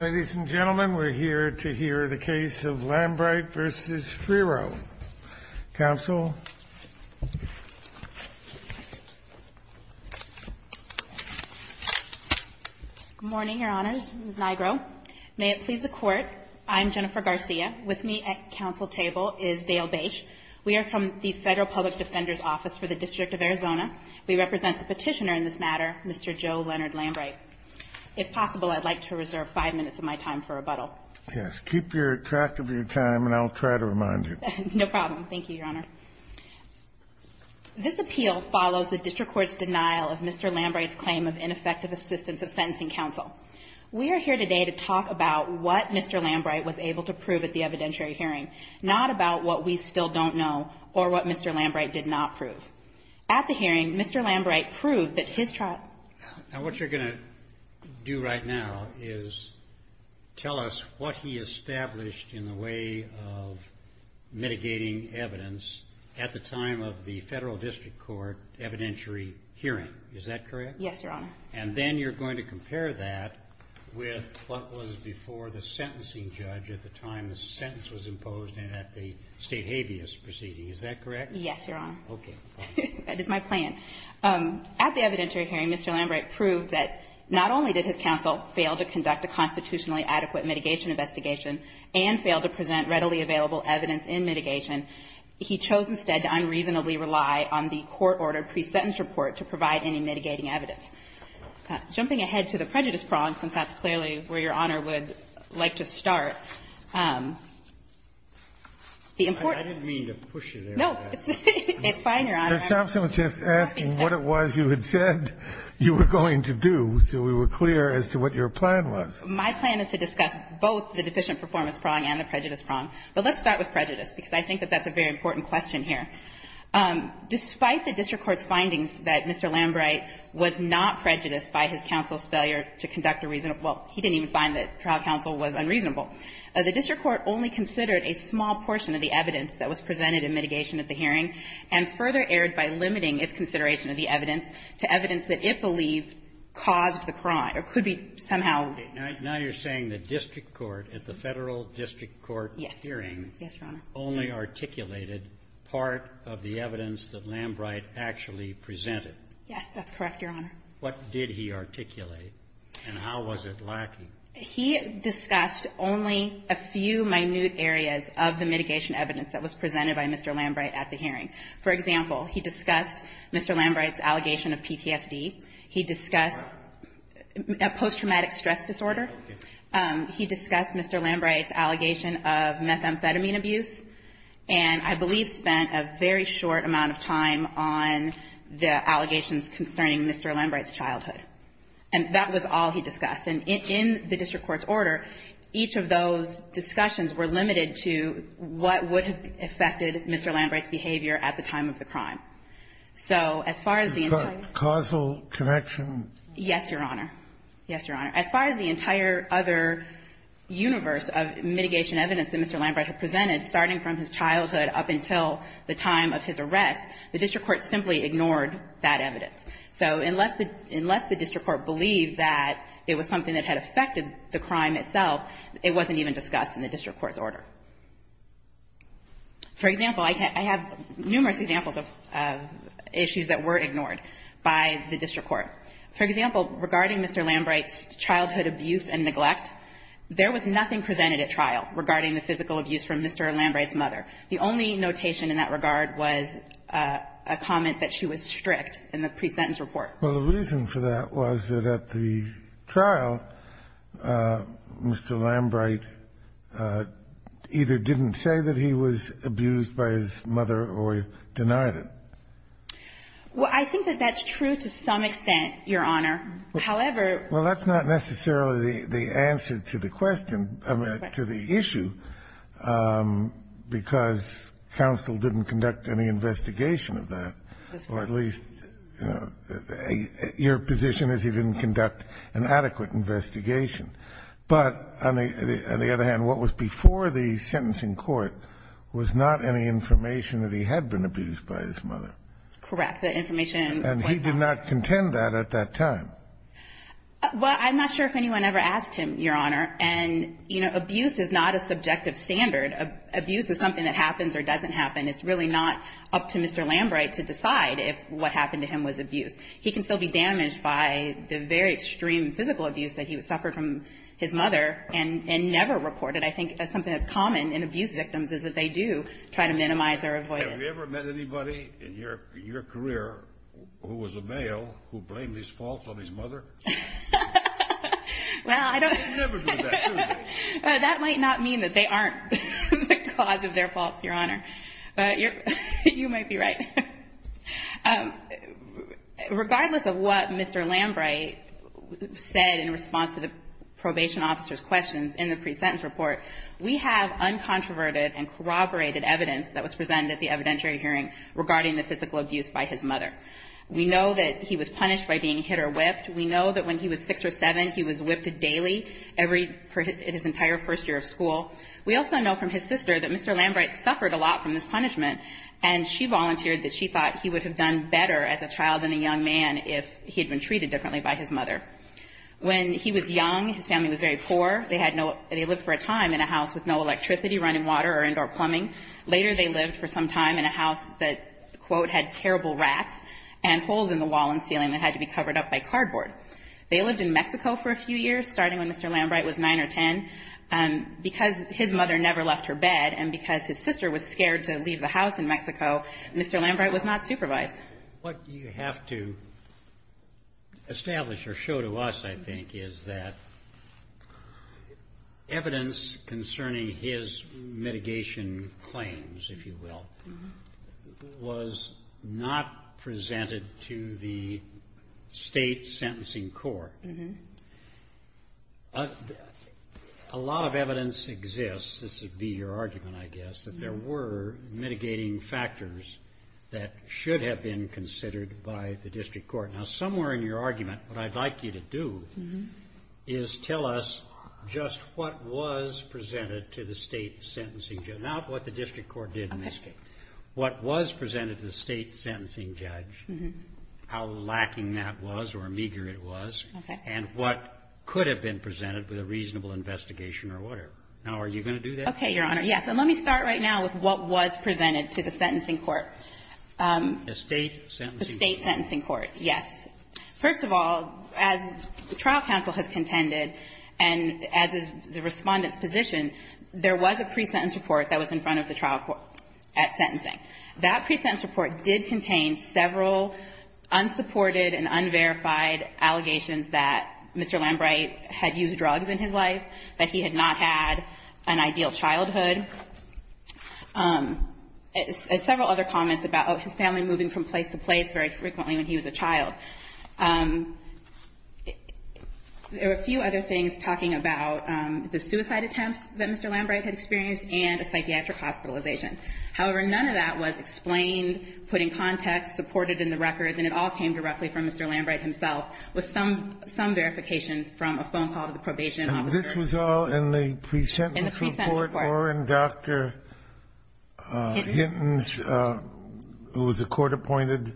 Ladies and gentlemen, we're here to hear the case of Lambright v. Schriro. Counsel. Good morning, Your Honors. Ms. Nigro. May it please the Court, I'm Jennifer Garcia. With me at counsel table is Dale Bache. We are from the Federal Public Defender's Office for the District of Arizona. We represent the petitioner in this matter, Mr. Joe Leonard Lambright. If possible, I'd like to reserve five minutes of my time for rebuttal. Yes, keep your track of your time and I'll try to remind you. No problem. Thank you, Your Honor. This appeal follows the district court's denial of Mr. Lambright's claim of ineffective assistance of sentencing counsel. We are here today to talk about what Mr. Lambright was able to prove at the evidentiary hearing, not about what we still don't know or what Mr. Lambright did not prove. At the hearing, Mr. Lambright proved that his trial. Now, what you're going to do right now is tell us what he established in the way of mitigating evidence at the time of the federal district court evidentiary hearing. Is that correct? Yes, Your Honor. And then you're going to compare that with what was before the sentencing judge at the time the sentence was imposed and at the state habeas proceeding. Is that correct? Yes, Your Honor. Okay. That is my plan. At the evidentiary hearing, Mr. Lambright proved that not only did his counsel fail to conduct a constitutionally adequate mitigation investigation and fail to present readily available evidence in mitigation, he chose instead to unreasonably rely on the court-ordered pre-sentence report to provide any mitigating evidence. Jumping ahead to the prejudice prong, since that's clearly where Your Honor would like to start, the important ---- I didn't mean to push it there. No, it's fine, Your Honor. Ms. Thompson was just asking what it was you had said you were going to do so we were clear as to what your plan was. My plan is to discuss both the deficient performance prong and the prejudice prong. But let's start with prejudice, because I think that that's a very important question here. Despite the district court's findings that Mr. Lambright was not prejudiced by his counsel's failure to conduct a reasonable ---- well, he didn't even find that trial counsel was unreasonable, the district court only considered a small portion of the evidence that was presented in mitigation at the hearing and further erred by limiting its consideration of the evidence to evidence that it believed caused the crime or could be somehow ---- Now you're saying the district court at the Federal district court hearing only articulated part of the evidence that Lambright actually presented. Yes, that's correct, Your Honor. What did he articulate, and how was it lacking? He discussed only a few minute areas of the mitigation evidence that was presented by Mr. Lambright at the hearing. For example, he discussed Mr. Lambright's allegation of PTSD, he discussed post-traumatic stress disorder, he discussed Mr. Lambright's allegation of methamphetamine abuse, and I believe spent a very short amount of time on the allegations concerning Mr. Lambright's childhood. And that was all he discussed. And in the district court's order, each of those discussions were limited to what would have affected Mr. Lambright's behavior at the time of the crime. So as far as the entire ---- But causal connection? Yes, Your Honor. Yes, Your Honor. As far as the entire other universe of mitigation evidence that Mr. Lambright had presented, starting from his childhood up until the time of his arrest, the district court simply ignored that evidence. So unless the district court believed that it was something that had affected the crime itself, it wasn't even discussed in the district court's order. For example, I have numerous examples of issues that were ignored by the district court. For example, regarding Mr. Lambright's childhood abuse and neglect, there was nothing presented at trial regarding the physical abuse from Mr. Lambright's mother. The only notation in that regard was a comment that she was strict in the pre-sentence report. Well, the reason for that was that at the trial, Mr. Lambright either didn't say that he was abused by his mother or denied it. Well, I think that that's true to some extent, Your Honor. However ---- Well, that's not necessarily the answer to the question ---- To the question. ---- that I'm trying to ask you, because counsel didn't conduct any investigation of that, or at least your position is he didn't conduct an adequate investigation. But on the other hand, what was before the sentencing court was not any information that he had been abused by his mother. Correct. The information was not ---- And he did not contend that at that time. Well, I'm not sure if anyone ever asked him, Your Honor. And, you know, abuse is not a subjective standard. Abuse is something that happens or doesn't happen. It's really not up to Mr. Lambright to decide if what happened to him was abuse. He can still be damaged by the very extreme physical abuse that he suffered from his mother and never reported. I think that's something that's common in abuse victims is that they do try to minimize or avoid it. Have you ever met anybody in your career who was a male who blamed his faults on his mother? Well, I don't ---- That might not mean that they aren't the cause of their faults, Your Honor. You might be right. Regardless of what Mr. Lambright said in response to the probation officer's questions in the pre-sentence report, we have uncontroverted and corroborated evidence that was presented at the evidentiary hearing regarding the physical abuse by his mother. We know that he was punished by being hit or whipped. We know that when he was six or seven, he was whipped daily every ---- his entire first year of school. We also know from his sister that Mr. Lambright suffered a lot from this punishment and she volunteered that she thought he would have done better as a child and a young man if he had been treated differently by his mother. When he was young, his family was very poor. They had no ---- they lived for a time in a house with no electricity, running water or indoor plumbing. Later, they lived for some time in a house that, quote, had terrible rats and holes in the wall and ceiling that had to be covered up by cardboard. They lived in Mexico for a few years, starting when Mr. Lambright was nine or ten. Because his mother never left her bed and because his sister was scared to leave the house in Mexico, Mr. Lambright was not supervised. What you have to establish or show to us, I think, is that evidence concerning his mitigation claims, if you will, was not presented to the state sentencing court. A lot of evidence exists, this would be your argument, I guess, that there were mitigating factors that should have been considered by the district court. Now, somewhere in your argument, what I'd like you to do is tell us just what was presented to the state sentencing judge, not what the district court did in this case, what was presented to the state sentencing judge, how lacking that was or meager it was, and what could have been presented with a reasonable investigation or whatever. Now, are you going to do that? Okay, Your Honor, yes. And let me start right now with what was presented to the sentencing court. The state sentencing court. The state sentencing court, yes. First of all, as the trial counsel has contended and as is the Respondent's position, there was a pre-sentence report that was in front of the trial court at sentencing. That pre-sentence report did contain several unsupported and unverified allegations that Mr. Lambright had used drugs in his life, that he had not had an ideal childhood. Several other comments about his family moving from place to place very frequently when he was a child. There were a few other things talking about the suicide attempts that Mr. Lambright had experienced and a psychiatric hospitalization. However, none of that was explained, put in context, supported in the record, and it all came directly from Mr. Lambright himself with some verification from a phone call to the probation officer. And this was all in the pre-sentence report or in Dr. Hinton's, who was a court-appointed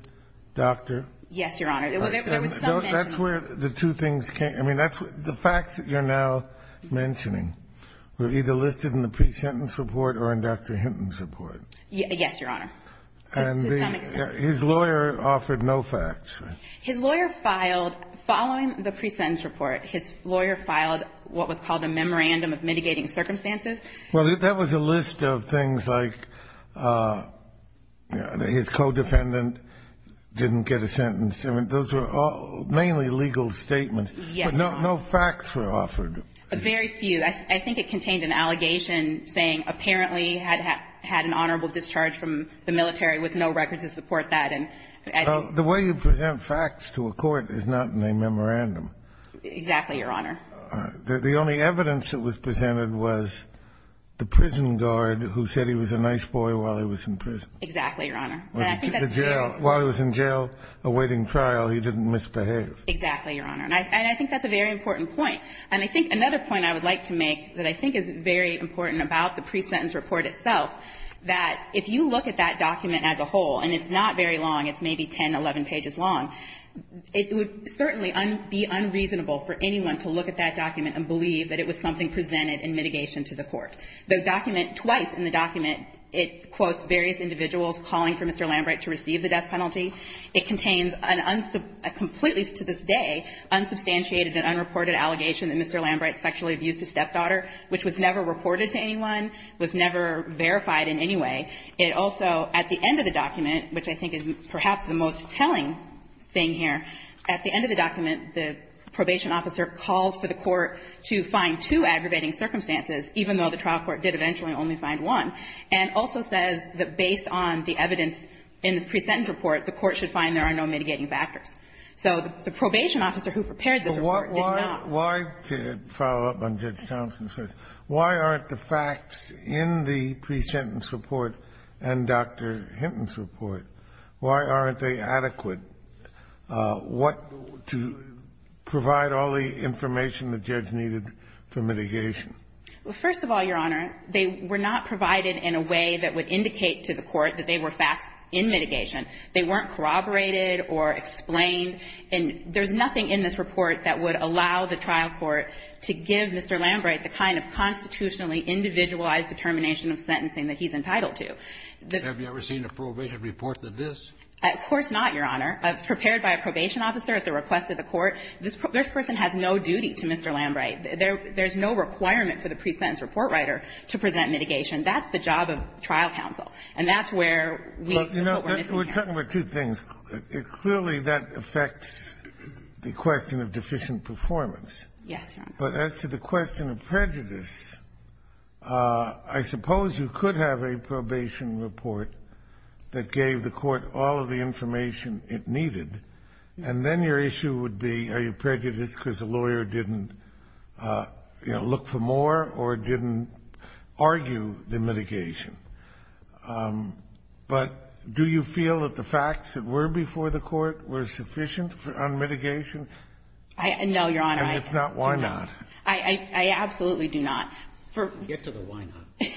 doctor. Yes, Your Honor. There was some mention of this. That's where the two things came. I mean, that's what the facts that you're now mentioning were either listed in the pre-sentence report or in Dr. Hinton's report. Yes, Your Honor, to some extent. And his lawyer offered no facts. His lawyer filed, following the pre-sentence report, his lawyer filed what was called a memorandum of mitigating circumstances. Well, that was a list of things like his co-defendant didn't get a sentence. I mean, those were mainly legal statements. Yes, Your Honor. But no facts were offered. Very few. I think it contained an allegation saying apparently had an honorable discharge from the military with no records to support that. The way you present facts to a court is not in a memorandum. Exactly, Your Honor. The only evidence that was presented was the prison guard who said he was a nice boy while he was in prison. Exactly, Your Honor. While he was in jail awaiting trial, he didn't misbehave. Exactly, Your Honor. And I think that's a very important point. And I think another point I would like to make that I think is very important about the pre-sentence report itself, that if you look at that document as a whole and it's not very long, it's maybe 10, 11 pages long, it would certainly be unreasonable for anyone to look at that document and believe that it was something presented in mitigation to the court. The document, twice in the document, it quotes various individuals calling for Mr. Lambrecht to receive the death penalty. It contains a completely, to this day, unsubstantiated and unreported allegation that Mr. Lambrecht sexually abused his stepdaughter, which was never reported to anyone, was never verified in any way. It also, at the end of the document, which I think is perhaps the most telling thing here, at the end of the document, the probation officer calls for the court to find two aggravating circumstances, even though the trial court did eventually only find one, and also says that based on the evidence in the pre-sentence report, the court should find there are no mitigating factors. So the probation officer who prepared this report did not. Kennedy, why to follow up on Judge Thomson's question, why aren't the facts in the pre-sentence report and Dr. Hinton's report, why aren't they adequate? What to provide all the information the judge needed for mitigation? First of all, Your Honor, they were not provided in a way that would indicate to the court that they were facts in mitigation. They weren't corroborated or explained, and there's nothing in this report that would allow the trial court to give Mr. Lambrecht the kind of constitutionally individualized determination of sentencing that he's entitled to. Have you ever seen a probation report that this? Of course not, Your Honor. It's prepared by a probation officer at the request of the court. This person has no duty to Mr. Lambrecht. There's no requirement for the pre-sentence report writer to present mitigation. That's the job of trial counsel, and that's where we're missing here. We're talking about two things. Clearly, that affects the question of deficient performance. Yes, Your Honor. And then your issue would be, are you prejudiced because the lawyer didn't look for more or didn't argue the mitigation? But do you feel that the facts that were before the court were sufficient on mitigation? No, Your Honor. And if not, why not? I absolutely do not. Get to the why not.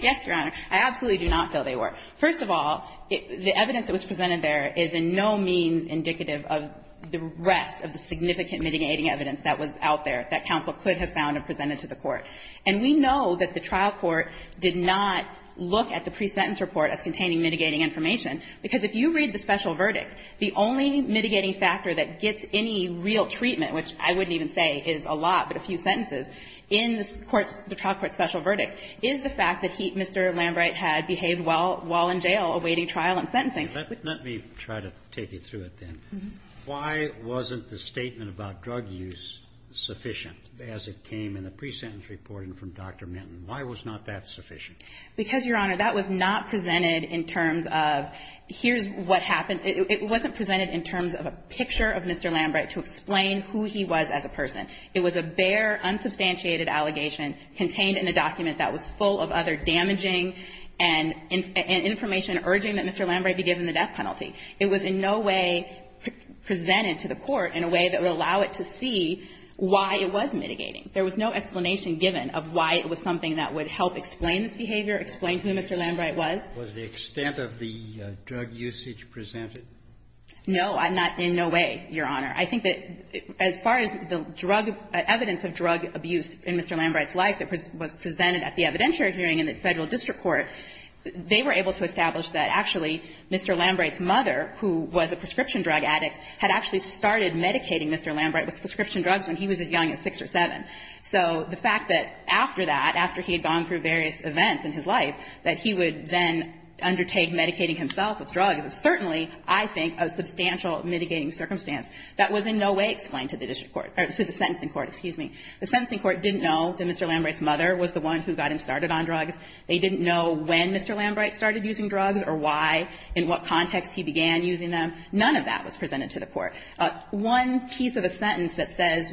Yes, Your Honor. I absolutely do not feel they were. First of all, the evidence that was presented there is in no means indicative of the rest of the significant mitigating evidence that was out there that counsel could have found and presented to the court. And we know that the trial court did not look at the pre-sentence report as containing mitigating information, because if you read the special verdict, the only mitigating factor that gets any real treatment, which I wouldn't even say is a lot, but a few had behaved well while in jail awaiting trial and sentencing. Let me try to take you through it then. Why wasn't the statement about drug use sufficient as it came in the pre-sentence reporting from Dr. Minton? Why was not that sufficient? Because, Your Honor, that was not presented in terms of here's what happened. It wasn't presented in terms of a picture of Mr. Lambright to explain who he was as a person. It was a bare, unsubstantiated allegation contained in a document that was full of other evidence and information urging that Mr. Lambright be given the death penalty. It was in no way presented to the court in a way that would allow it to see why it was mitigating. There was no explanation given of why it was something that would help explain this behavior, explain who Mr. Lambright was. Was the extent of the drug usage presented? No, not in no way, Your Honor. I think that as far as the drug, evidence of drug abuse in Mr. Lambright's life that was presented at the evidentiary hearing in the Federal district court, they were able to establish that actually Mr. Lambright's mother, who was a prescription drug addict, had actually started medicating Mr. Lambright with prescription drugs when he was as young as 6 or 7. So the fact that after that, after he had gone through various events in his life, that he would then undertake medicating himself with drugs is certainly, I think, a substantial mitigating circumstance that was in no way explained to the district court or to the sentencing court. The sentencing court didn't know that Mr. Lambright's mother was the one who got him started on drugs. They didn't know when Mr. Lambright started using drugs or why, in what context he began using them. None of that was presented to the court. One piece of the sentence that says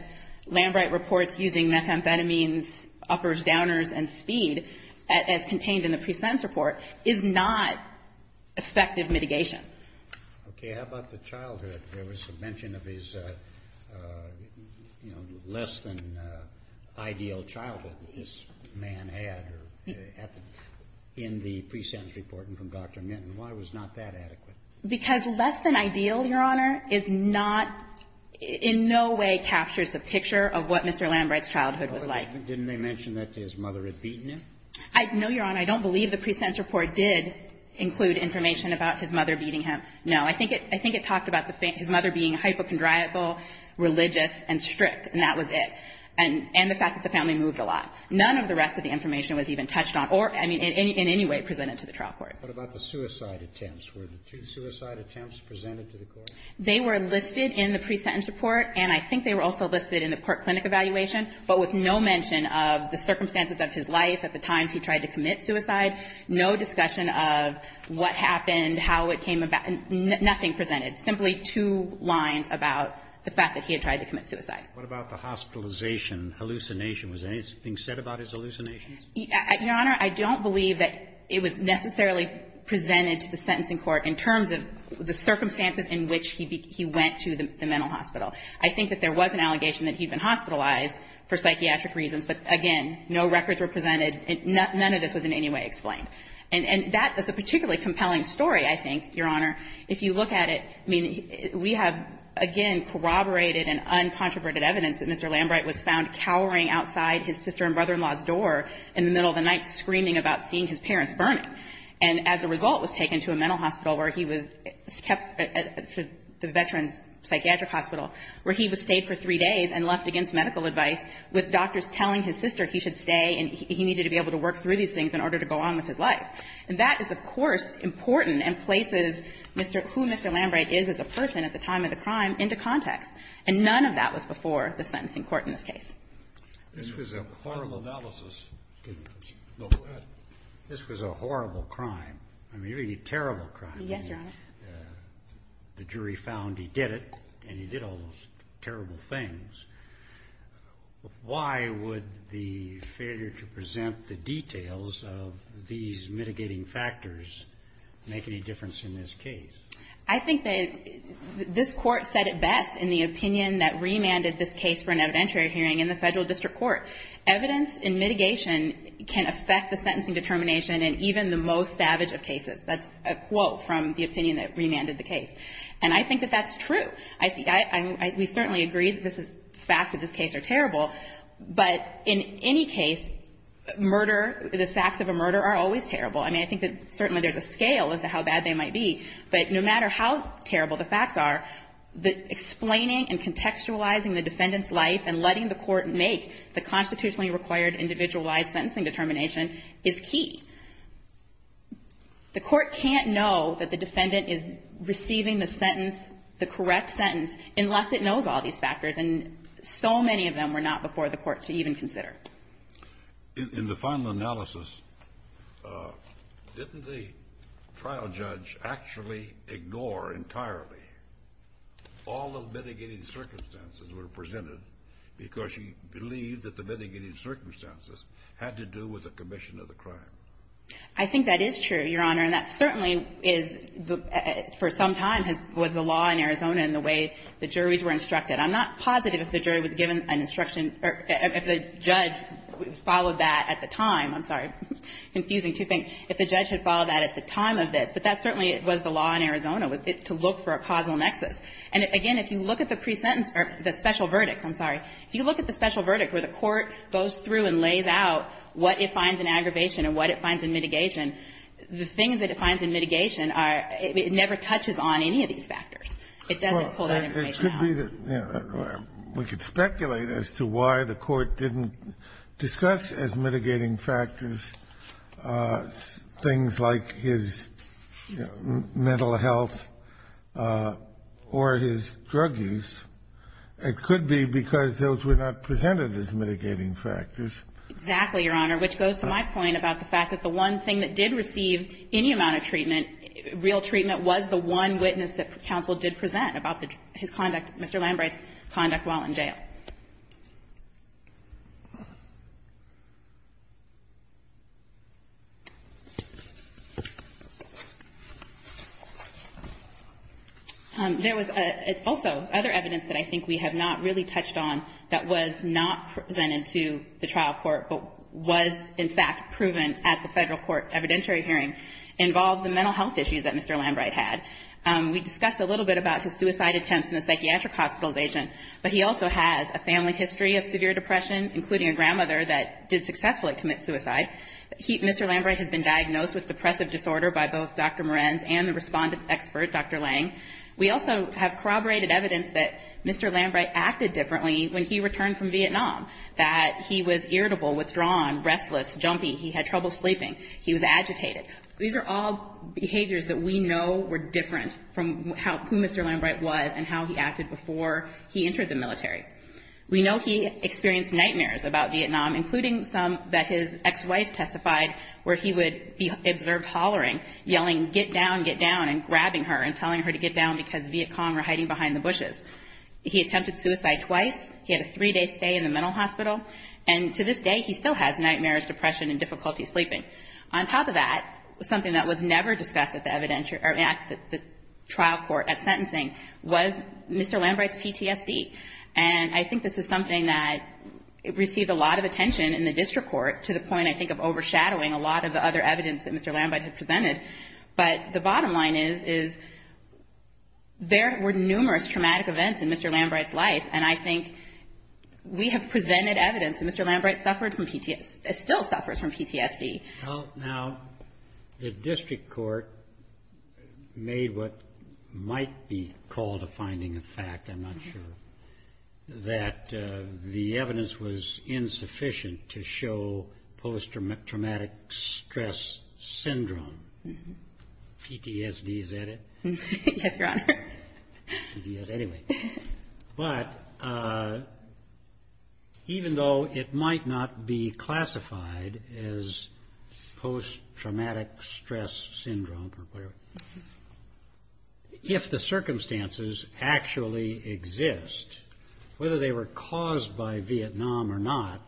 Lambright reports using methamphetamines, uppers, downers and speed as contained in the pre-sentence report is not effective mitigation. Okay. How about the childhood? There was a mention of his, you know, less than ideal childhood that this man had in the pre-sentence report and from Dr. Minton. Why was not that adequate? Because less than ideal, Your Honor, is not, in no way captures the picture of what Mr. Lambright's childhood was like. No, Your Honor. And I don't believe the pre-sentence report did include information about his mother beating him. No. I think it talked about his mother being hypochondriacal, religious, and strict, and that was it, and the fact that the family moved a lot. None of the rest of the information was even touched on or, I mean, in any way presented to the trial court. What about the suicide attempts? Were the two suicide attempts presented to the court? They were listed in the pre-sentence report, and I think they were also listed in the court clinic evaluation, but with no mention of the circumstances of his life, at the time of his suicide, no discussion of what happened, how it came about, nothing presented, simply two lines about the fact that he had tried to commit suicide. What about the hospitalization, hallucination? Was anything said about his hallucinations? Your Honor, I don't believe that it was necessarily presented to the sentencing court in terms of the circumstances in which he went to the mental hospital. I think that there was an allegation that he had been hospitalized for psychiatric reasons, but again, no records were presented. None of this was in any way explained. And that is a particularly compelling story, I think, Your Honor. If you look at it, I mean, we have, again, corroborated and uncontroverted evidence that Mr. Lambright was found cowering outside his sister and brother-in-law's door in the middle of the night screaming about seeing his parents burning, and as a result was taken to a mental hospital where he was kept at the Veterans Psychiatric Hospital, where he stayed for three days and left against medical advice, with doctors to be able to work through these things in order to go on with his life. And that is, of course, important and places Mr. — who Mr. Lambright is as a person at the time of the crime into context. And none of that was before the sentencing court in this case. This was a horrible analysis. Go ahead. This was a horrible crime, a really terrible crime. Yes, Your Honor. The jury found he did it, and he did all those terrible things. Why would the failure to present the details of these mitigating factors make any difference in this case? I think that this Court said it best in the opinion that remanded this case for an evidentiary hearing in the Federal District Court. Evidence in mitigation can affect the sentencing determination in even the most savage of cases. That's a quote from the opinion that remanded the case. And I think that that's true. I — we certainly agree that this is — the facts of this case are terrible. But in any case, murder — the facts of a murder are always terrible. I mean, I think that certainly there's a scale as to how bad they might be. But no matter how terrible the facts are, the explaining and contextualizing the defendant's life and letting the Court make the constitutionally required individualized sentencing determination is key. The Court can't know that the defendant is receiving the sentence, the correct sentence, unless it knows all these factors. And so many of them were not before the Court to even consider. In the final analysis, didn't the trial judge actually ignore entirely all the mitigating circumstances that were presented because she believed that the mitigating circumstances had to do with the commission of the crime? I think that is true, Your Honor. And that certainly is — for some time was the law in Arizona and the way the juries were instructed. I'm not positive if the jury was given an instruction — or if the judge followed that at the time. I'm sorry. Confusing two things. If the judge had followed that at the time of this. But that certainly was the law in Arizona, was to look for a causal nexus. And again, if you look at the presentence — or the special verdict, I'm sorry. If you look at the special verdict where the Court goes through and lays out what it finds in aggravation and what it finds in mitigation, the things that it finds in mitigation are — it never touches on any of these factors. It doesn't pull that information out. Well, it could be that — we could speculate as to why the Court didn't discuss as mitigating factors things like his mental health or his drug use. It could be because those were not presented as mitigating factors. Exactly, Your Honor, which goes to my point about the fact that the one thing that did receive any amount of treatment, real treatment, was the one witness that counsel did present about his conduct, Mr. Lambright's conduct while in jail. There was also other evidence that I think we have not really touched on that was not presented to the trial court but was, in fact, proven at the federal court evidentiary hearing involved the mental health issues that Mr. Lambright had. We discussed a little bit about his suicide attempts and the psychiatric hospitalization, but he also has a family history of severe depression, including a grandmother that did successfully commit suicide. Mr. Lambright has been diagnosed with depressive disorder by both Dr. Morenz and the respondent's expert, Dr. Lange. We also have corroborated evidence that Mr. Lambright acted differently when he returned from Vietnam, that he was irritable, withdrawn, restless, jumpy, he had trouble sleeping, he was agitated. These are all behaviors that we know were different from who Mr. Lambright was and how he acted before he entered the military. We know he experienced nightmares about Vietnam, including some that his ex-wife testified where he would be observed hollering, yelling, get down, get down, and grabbing her and telling her to get down because Viet Cong were hiding behind the bushes. He attempted suicide twice. He had a three-day stay in the mental hospital. And to this day, he still has nightmares, depression, and difficulty sleeping. On top of that, something that was never discussed at the trial court at sentencing was Mr. Lambright's PTSD. And I think this is something that received a lot of attention in the district court to the point, I think, of overshadowing a lot of the other evidence that Mr. Lambright had presented. But the bottom line is there were numerous traumatic events in Mr. Lambright's life, and I think we have presented evidence that Mr. Lambright still suffers from PTSD. Now, the district court made what might be called a finding of fact, I'm not sure, that the evidence was insufficient to show post-traumatic stress syndrome. PTSD, is that it? Yes, Your Honor. PTSD, anyway. But even though it might not be classified as post-traumatic stress syndrome, if the circumstances actually exist, whether they were caused by Vietnam or not,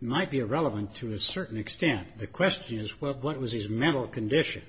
might be irrelevant to a certain extent. The question is, well, what was his mental condition?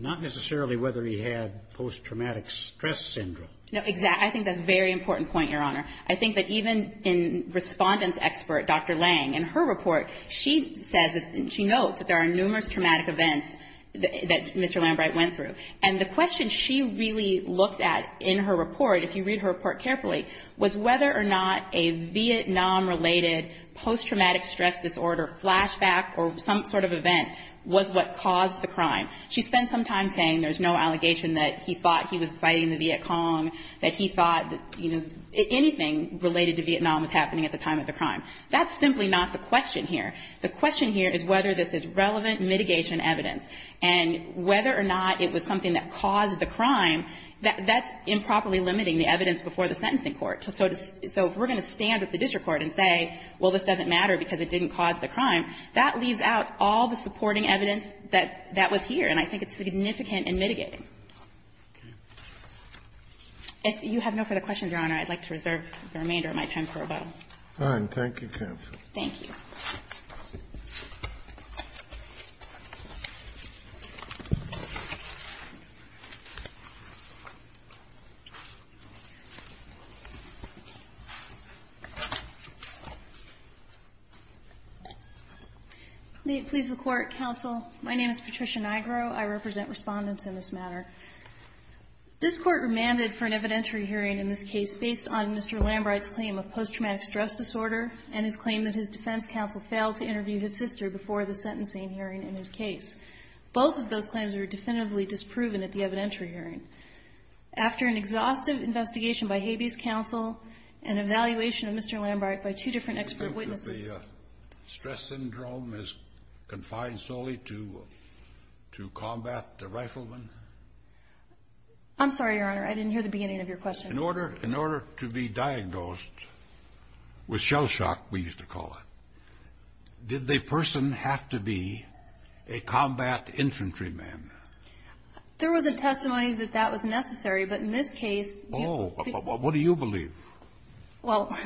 Not necessarily whether he had post-traumatic stress syndrome. No, exactly. I think that's a very important point, Your Honor. I think that even in respondent's expert, Dr. Lang, in her report, she says, she notes that there are numerous traumatic events that Mr. Lambright went through. And the question she really looked at in her report, if you read her report carefully, was whether or not a Vietnam-related post-traumatic stress disorder flashback or some sort of event was what caused the crime. She spent some time saying there's no allegation that he thought he was fighting the Viet Cong, that he thought, you know, anything related to Vietnam was happening at the time of the crime. That's simply not the question here. The question here is whether this is relevant mitigation evidence, and whether or not it was something that caused the crime, that's improperly limiting the evidence before the sentencing court. So if we're going to stand with the district court and say, well, this doesn't matter because it didn't cause the crime, that leaves out all the supporting evidence that was here, and I think it's significant in mitigating. If you have no further questions, Your Honor, I'd like to reserve the remainder of my time for rebuttal. Thank you, counsel. Thank you. May it please the Court, counsel. My name is Patricia Nigro. I represent Respondents in this matter. This Court remanded for an evidentiary hearing in this case based on Mr. Lambright's claim of post-traumatic stress disorder and his claim that his defense counsel failed to interview his sister before the sentencing hearing in his case. Both of those claims were definitively disproven at the evidentiary hearing. After an exhaustive investigation by Habeas Counsel and evaluation of Mr. Lambright by two different expert witnesses. Do you think that the stress syndrome is confined solely to combat the rifleman? I'm sorry, Your Honor. I didn't hear the beginning of your question. In order to be diagnosed with shell shock, we used to call it, did the person have to be a combat infantryman? There was a testimony that that was necessary. But in this case. Oh. What do you believe? Well,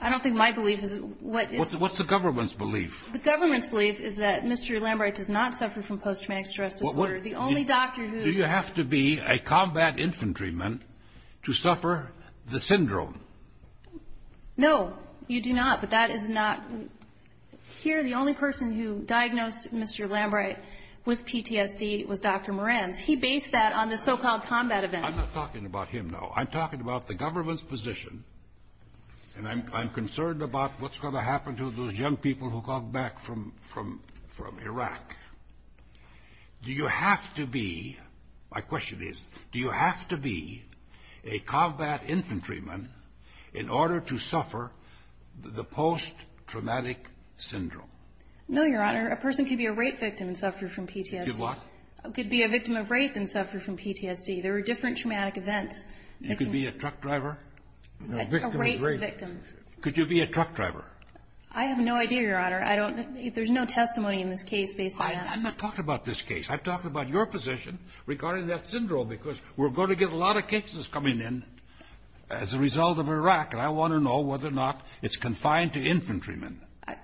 I don't think my belief is what is. What's the government's belief? The government's belief is that Mr. Lambright does not suffer from post-traumatic stress disorder. The only doctor who. Do you have to be a combat infantryman to suffer the syndrome? No. You do not. But that is not. Here, the only person who diagnosed Mr. Lambright with PTSD was Dr. Moran. He based that on the so-called combat event. I'm not talking about him, though. I'm talking about the government's position. And I'm concerned about what's going to happen to those young people who come back from Iraq. Do you have to be, my question is, do you have to be a combat infantryman in order to suffer the post-traumatic syndrome? No, Your Honor. A person could be a rape victim and suffer from PTSD. Could what? Could be a victim of rape and suffer from PTSD. There are different traumatic events. You could be a truck driver? A rape victim. Could you be a truck driver? I have no idea, Your Honor. I don't know. There's no testimony in this case based on that. I'm not talking about this case. I'm talking about your position regarding that syndrome because we're going to get a lot of cases coming in as a result of Iraq, and I want to know whether or not it's confined to infantrymen.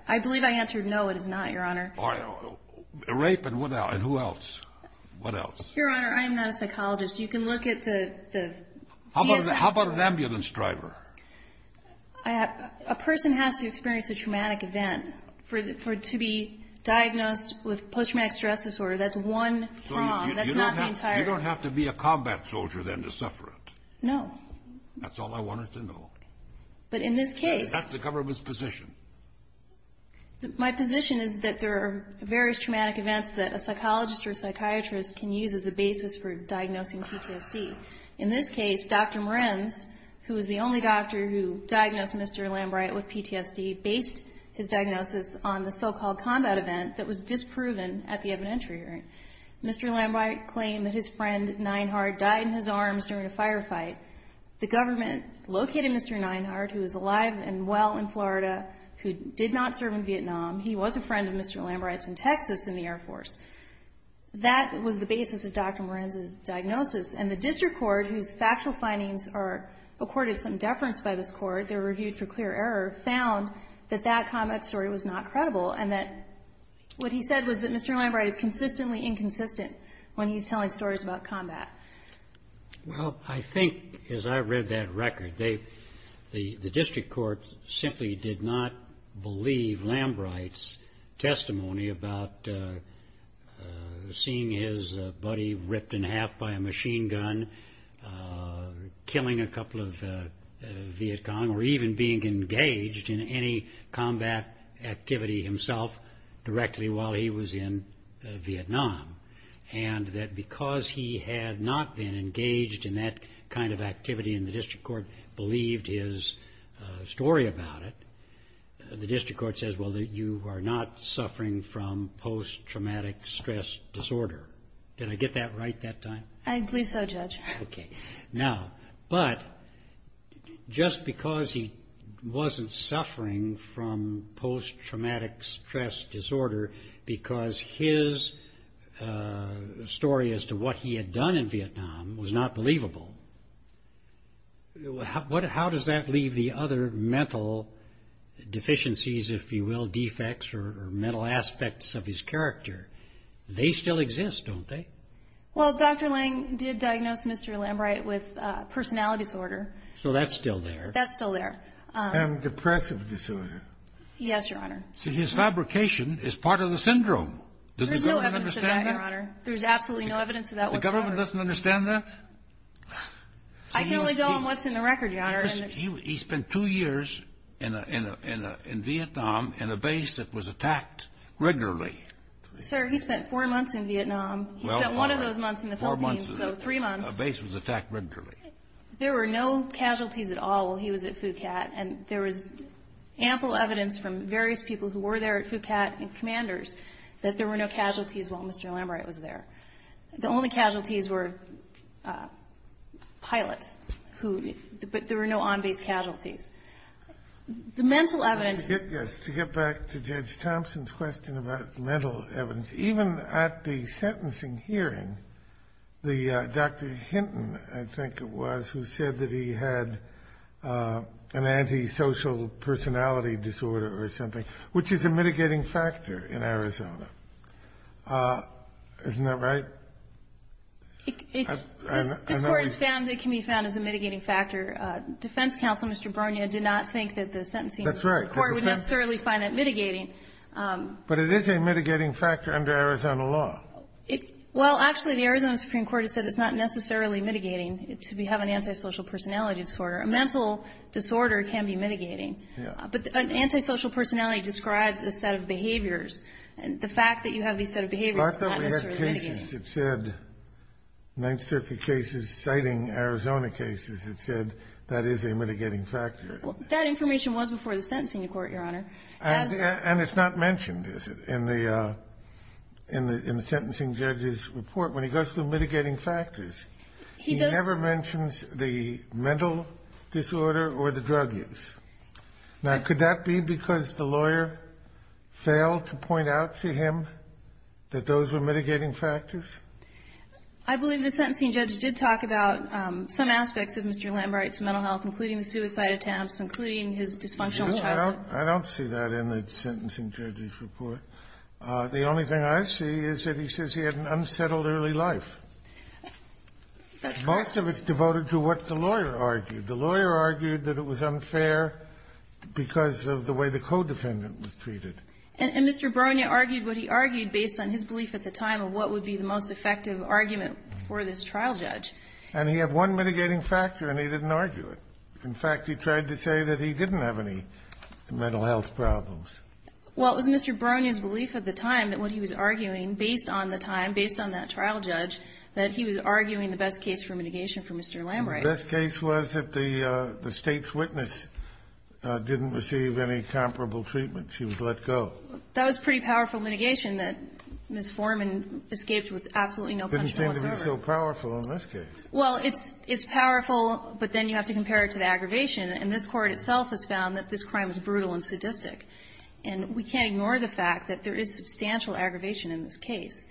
I believe I answered no, it is not, Your Honor. Rape and what else? And who else? What else? Your Honor, I am not a psychologist. You can look at the DSM. How about an ambulance driver? A person has to experience a traumatic event for it to be diagnosed with post-traumatic stress disorder. That's one prong. That's not the entire... So you don't have to be a combat soldier then to suffer it? No. That's all I wanted to know. But in this case... That's the government's position. My position is that there are various traumatic events that a psychologist or a psychiatrist can use as a basis for diagnosing PTSD. In this case, Dr. Morenz, who is the only doctor who diagnosed Mr. Lambright with PTSD, based his diagnosis on the so-called combat event that was disproven at the evidentiary hearing. Mr. Lambright claimed that his friend, Neinhardt, died in his arms during a firefight. The government located Mr. Neinhardt, who is alive and well in Florida, who did not serve in Vietnam. He was a friend of Mr. Lambright's in Texas in the Air Force. And the district court, whose factual findings are accorded some deference by this court, they were reviewed for clear error, found that that combat story was not credible. And that what he said was that Mr. Lambright is consistently inconsistent when he's telling stories about combat. Well, I think, as I read that record, the district court simply did not believe Lambright's testimony about seeing his buddy ripped in half by a machine gun, killing a couple of Viet Cong, or even being engaged in any combat activity himself directly while he was in Vietnam. And that because he had not been engaged in that kind of activity and the district court believed his story about it, the district court says, well, you are not suffering from post-traumatic stress disorder. Did I get that right that time? I believe so, Judge. Okay. Now, but just because he wasn't suffering from post-traumatic stress disorder because his story as to what he had done in Vietnam was not believable, how does that leave the other mental deficiencies, if you will, defects or mental aspects of his character? They still exist, don't they? Well, Dr. Lang did diagnose Mr. Lambright with personality disorder. So that's still there. That's still there. And depressive disorder. Yes, Your Honor. So his fabrication is part of the syndrome. Does the government understand that? There's no evidence of that, Your Honor. There's absolutely no evidence of that whatsoever. The government doesn't understand that? I can only go on what's in the record, Your Honor. He spent two years in Vietnam in a base that was attacked regularly. Sir, he spent four months in Vietnam. He spent one of those months in the Philippines. Four months. So three months. A base was attacked regularly. There were no casualties at all while he was at Phuket. And there was ample evidence from various people who were there at Phuket and commanders that there were no casualties while Mr. Lambright was there. The only casualties were pilots who — but there were no on-base casualties. The mental evidence — Yes, to get back to Judge Thompson's question about mental evidence, even at the sentencing hearing, the — Dr. Hinton, I think it was, who said that he had an antisocial personality disorder or something, which is a mitigating factor in Arizona. Isn't that right? This Court has found that it can be found as a mitigating factor. Defense counsel, Mr. Borno, did not think that the sentencing court would necessarily find that mitigating. That's right. But it is a mitigating factor under Arizona law. Well, actually, the Arizona Supreme Court has said it's not necessarily mitigating to have an antisocial personality disorder. A mental disorder can be mitigating. Yeah. But an antisocial personality describes a set of behaviors. The fact that you have these set of behaviors is not necessarily mitigating. Lots of cases have said, Ninth Circuit cases citing Arizona cases, have said that is a mitigating factor. That information was before the sentencing court, Your Honor. And it's not mentioned, is it, in the sentencing judge's report? When he goes through mitigating factors, he never mentions the mental disorder or the drug use. Now, could that be because the lawyer failed to point out to him that those were mitigating factors? I believe the sentencing judge did talk about some aspects of Mr. Lambwright's mental health, including the suicide attempts, including his dysfunctional childhood. I don't see that in the sentencing judge's report. The only thing I see is that he says he had an unsettled early life. That's correct. Most of it's devoted to what the lawyer argued. The lawyer argued that it was unfair because of the way the co-defendant was treated. And Mr. Bronia argued what he argued based on his belief at the time of what would be the most effective argument for this trial judge. And he had one mitigating factor, and he didn't argue it. In fact, he tried to say that he didn't have any mental health problems. Well, it was Mr. Bronia's belief at the time that what he was arguing, based on the time, based on that trial judge, that he was arguing the best case for mitigation for Mr. Lambwright. The best case was if the State's witness didn't receive any comparable treatment. She was let go. That was pretty powerful mitigation that Ms. Foreman escaped with absolutely no punishment whatsoever. It didn't seem to be so powerful in this case. Well, it's powerful, but then you have to compare it to the aggravation. And this Court itself has found that this crime was brutal and sadistic. And we can't ignore the fact that there is substantial aggravation in this case.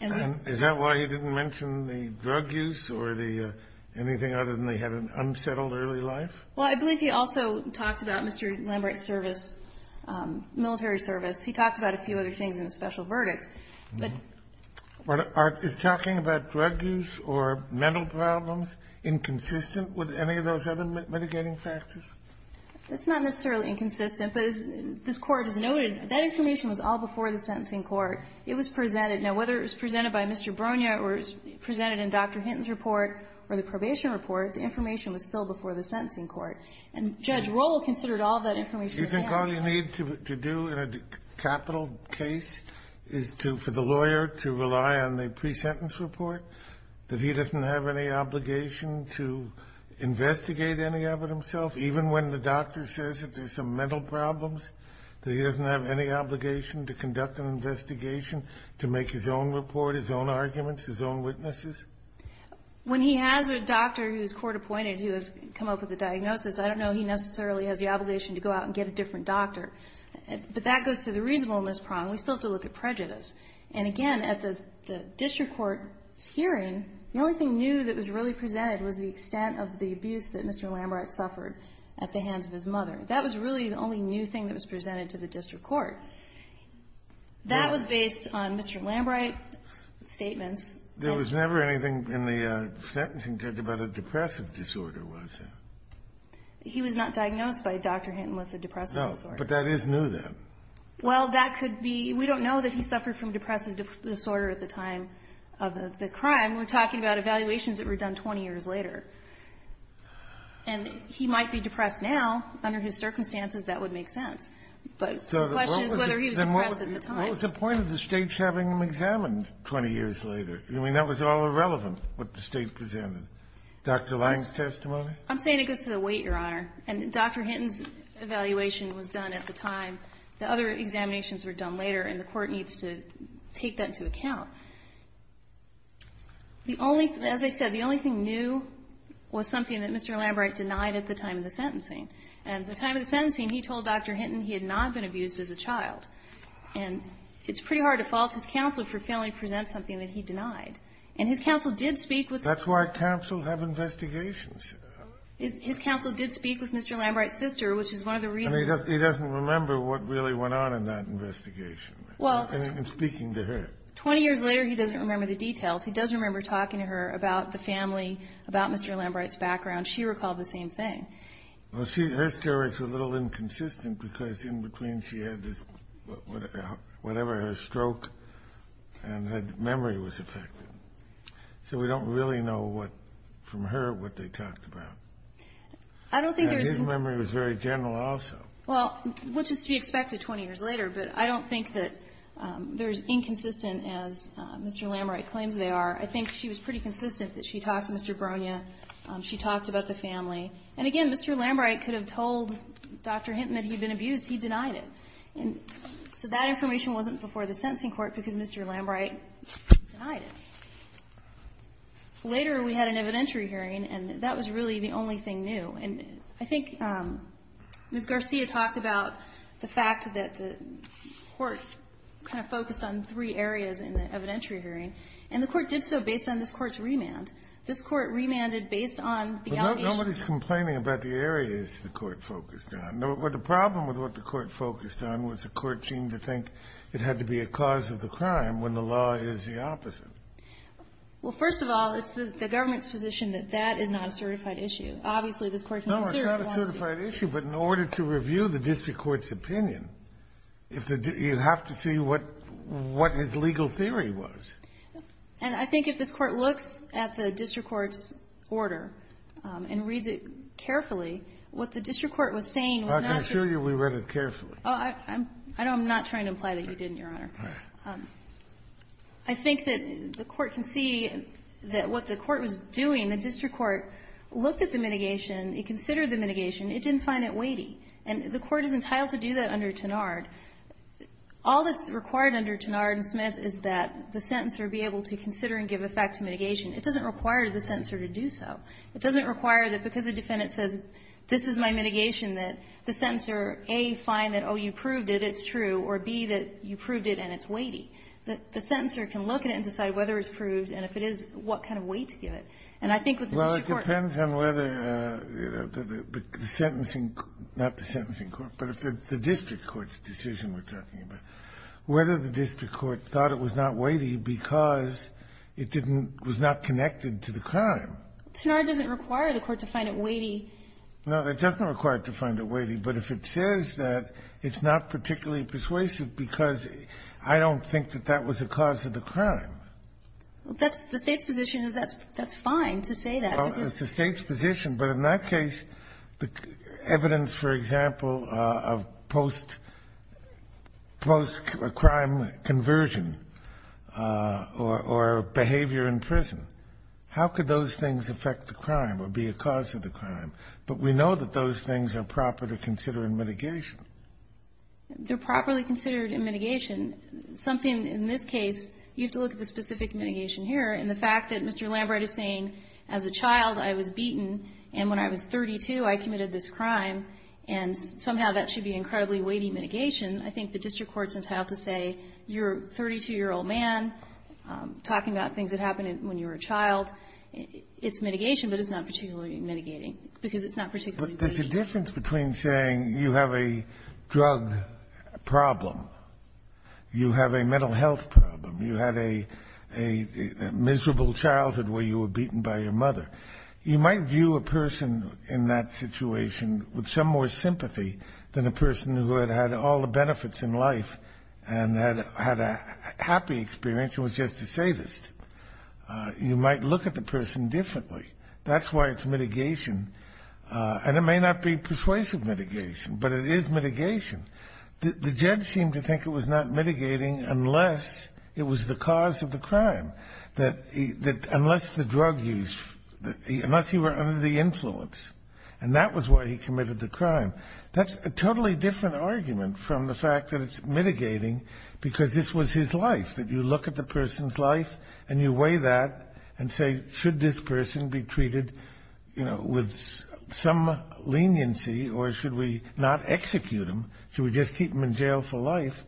And is that why he didn't mention the drug use or the anything other than they had an unsettled early life? Well, I believe he also talked about Mr. Lambwright's service, military service. He talked about a few other things in the special verdict. But are we talking about drug use or mental problems inconsistent with any of those other mitigating factors? It's not necessarily inconsistent, but as this Court has noted, that information was all before the sentencing court. It was presented. Now, whether it was presented by Mr. Bronia or presented in Dr. Hinton's report or the probation report, the information was still before the sentencing court. And Judge Rohl considered all that information. You think all you need to do in a capital case is to, for the lawyer to rely on the pre-sentence report, that he doesn't have any obligation to investigate any of it himself, even when the doctor says that there's some mental problems, that he doesn't have any obligation to conduct an investigation to make his own report, his own arguments, his own witnesses? When he has a doctor who's court-appointed who has come up with a diagnosis, I don't know he necessarily has the obligation to go out and get a different doctor. But that goes to the reasonableness problem. We still have to look at prejudice. And again, at the district court's hearing, the only thing new that was really presented was the extent of the abuse that Mr. Lambwright suffered at the hands of his mother. That was really the only new thing that was presented to the district court. That was based on Mr. Lambwright's statements. There was never anything in the sentencing court about a depressive disorder, was there? He was not diagnosed by Dr. Hinton with a depressive disorder. No. But that is new, then. Well, that could be. We don't know that he suffered from depressive disorder at the time of the crime. We're talking about evaluations that were done 20 years later. And he might be depressed now. Under his circumstances, that would make sense. But the question is whether he was depressed at the time. So what was the point of the States having him examined 20 years later? I mean, that was all irrelevant, what the State presented. Dr. Lamb's testimony? I'm saying it goes to the weight, Your Honor. And Dr. Hinton's evaluation was done at the time. The other examinations were done later, and the Court needs to take that into account. The only thing, as I said, the only thing new was something that Mr. Lambwright denied at the time of the sentencing. And at the time of the sentencing, he told Dr. Hinton he had not been abused as a child. And it's pretty hard to fault his counsel for failing to present something that he denied. And his counsel did speak with the ---- That's why counsels have investigations. His counsel did speak with Mr. Lambwright's sister, which is one of the reasons ---- And he doesn't remember what really went on in that investigation, in speaking to her. 20 years later, he doesn't remember the details. He does remember talking to her about the family, about Mr. Lambwright's background. She recalled the same thing. Well, see, her stories were a little inconsistent because in between she had this, whatever, a stroke, and her memory was affected. So we don't really know what, from her, what they talked about. I don't think there's ---- And his memory was very general also. Well, which is to be expected 20 years later, but I don't think that they're as inconsistent as Mr. Lambwright claims they are. I think she was pretty consistent that she talked to Mr. Boronia. She talked about the family. And, again, Mr. Lambwright could have told Dr. Hinton that he'd been abused. He denied it. And so that information wasn't before the sentencing court because Mr. Lambwright denied it. Later, we had an evidentiary hearing, and that was really the only thing new. And I think Ms. Garcia talked about the fact that the Court kind of focused on three areas in the evidentiary hearing, and the Court did so based on this Court's remand. This Court remanded based on the allegations. But nobody's complaining about the areas the Court focused on. The problem with what the Court focused on was the Court seemed to think it had to be a cause of the crime when the law is the opposite. Well, first of all, it's the government's position that that is not a certified issue. Obviously, this Court can consider it if it wants to. No, it's not a certified issue. But in order to review the district court's opinion, you have to see what his legal theory was. And I think if this Court looks at the district court's order and reads it carefully, what the district court was saying was not true. Well, I can assure you we read it carefully. I'm not trying to imply that you didn't, Your Honor. All right. I think that the Court can see that what the Court was doing, the district court looked at the mitigation. It considered the mitigation. It didn't find it weighty. And the Court is entitled to do that under Tenard. All that's required under Tenard and Smith is that the sentencer be able to consider and give effect to mitigation. It doesn't require the sentencer to do so. It doesn't require that because the defendant says, this is my mitigation, that the sentencer, A, find that, oh, you proved it, it's true, or, B, that you proved it and it's weighty. The sentencer can look at it and decide whether it's proved and if it is, what kind of weight to give it. And I think that the district court can do that. Well, it depends on whether the sentencing court, not the sentencing court, but if the district court's decision we're talking about, whether the district court thought it was not weighty because it didn't, was not connected to the crime. Tenard doesn't require the court to find it weighty. No, it doesn't require it to find it weighty, but if it says that it's not particularly persuasive because I don't think that that was the cause of the crime. Well, that's the State's position is that's fine to say that. Well, it's the State's position. But in that case, the evidence, for example, of post-crime conversion or behavior in prison, how could those things affect the crime or be a cause of the crime? But we know that those things are properly considered in mitigation. They're properly considered in mitigation. Something in this case, you have to look at the specific mitigation here. And the fact that Mr. Lambright is saying, as a child, I was beaten, and when I was 32, I committed this crime, and somehow that should be incredibly weighty mitigation, I think the district court's entitled to say, you're a 32-year-old man, talking about things that happened when you were a child, it's mitigation, but it's not particularly mitigating, because it's not particularly weighty. There's a difference between saying you have a drug problem, you have a mental health problem, you had a miserable childhood where you were beaten by your mother. You might view a person in that situation with some more sympathy than a person who had had all the benefits in life and had a happy experience and was just a sadist. You might look at the person differently. That's why it's mitigation. And it may not be persuasive mitigation, but it is mitigation. The judge seemed to think it was not mitigating unless it was the cause of the crime, that unless the drug use, unless he were under the influence. And that was why he committed the crime. That's a totally different argument from the fact that it's mitigating because this was his life, that you look at the person's life and you weigh that and say, should this person be treated, you know, with some leniency or should we not execute him, should we just keep him in jail for life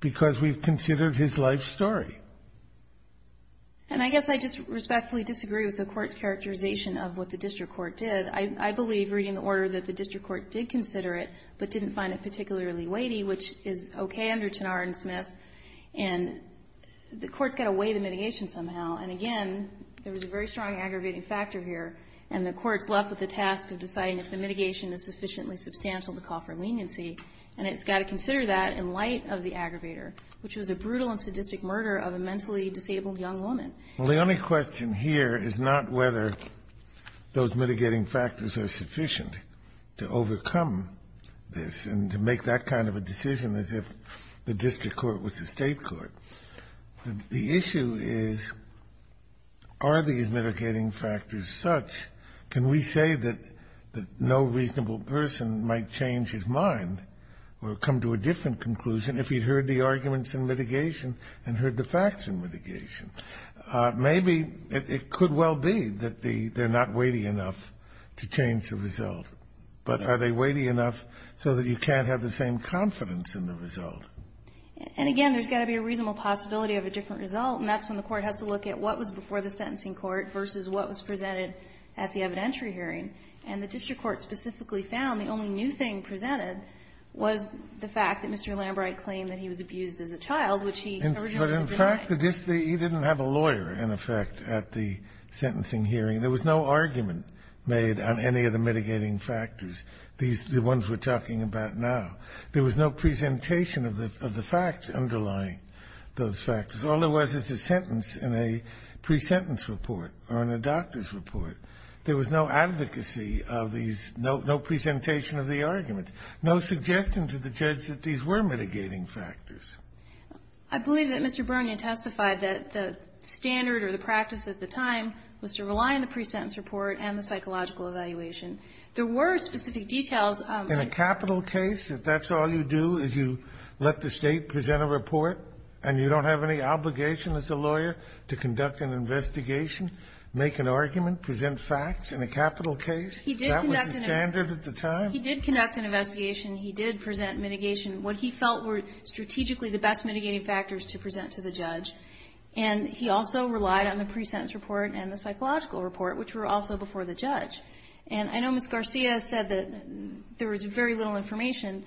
because we've considered his life story? And I guess I just respectfully disagree with the Court's characterization of what the district court did. I believe, reading the order, that the district court did consider it but didn't find it particularly weighty, which is okay under Tanara and Smith. And the Court's got to weigh the mitigation somehow. And again, there was a very strong aggravating factor here, and the Court's left with the task of deciding if the mitigation is sufficiently substantial to call for leniency, and it's got to consider that in light of the aggravator, which was a brutal and sadistic murder of a mentally disabled young woman. Kennedy. Well, the only question here is not whether those mitigating factors are sufficient to overcome this and to make that kind of a decision as if the district court was the State court. The issue is, are these mitigating factors such? Can we say that no reasonable person might change his mind or come to a different conclusion if he'd heard the arguments in mitigation and heard the facts in mitigation? Maybe it could well be that they're not weighty enough to change the result. But are they weighty enough so that you can't have the same confidence in the result? And again, there's got to be a reasonable possibility of a different result, and that's when the Court has to look at what was before the sentencing court versus what was presented at the evidentiary hearing. And the district court specifically found the only new thing presented was the fact that Mr. Lambright claimed that he was abused as a child, which he originally denied. Kennedy. But in fact, he didn't have a lawyer, in effect, at the sentencing hearing. There was no argument made on any of the mitigating factors, the ones we're talking about now. There was no presentation of the facts underlying those factors. All there was is a sentence in a pre-sentence report or in a doctor's report. There was no advocacy of these, no presentation of the arguments, no suggestion to the judge that these were mitigating factors. I believe that Mr. Bernia testified that the standard or the practice at the time was to rely on the pre-sentence report and the psychological evaluation. There were specific details. In a capital case, if that's all you do is you let the State present a report and you don't have any obligation as a lawyer to conduct an investigation, make an argument, present facts in a capital case, that was the standard at the time? He did conduct an investigation. He did present mitigation, what he felt were strategically the best mitigating factors to present to the judge. And he also relied on the pre-sentence report and the psychological report, which were also before the judge. And I know Ms. Garcia said that there was very little information.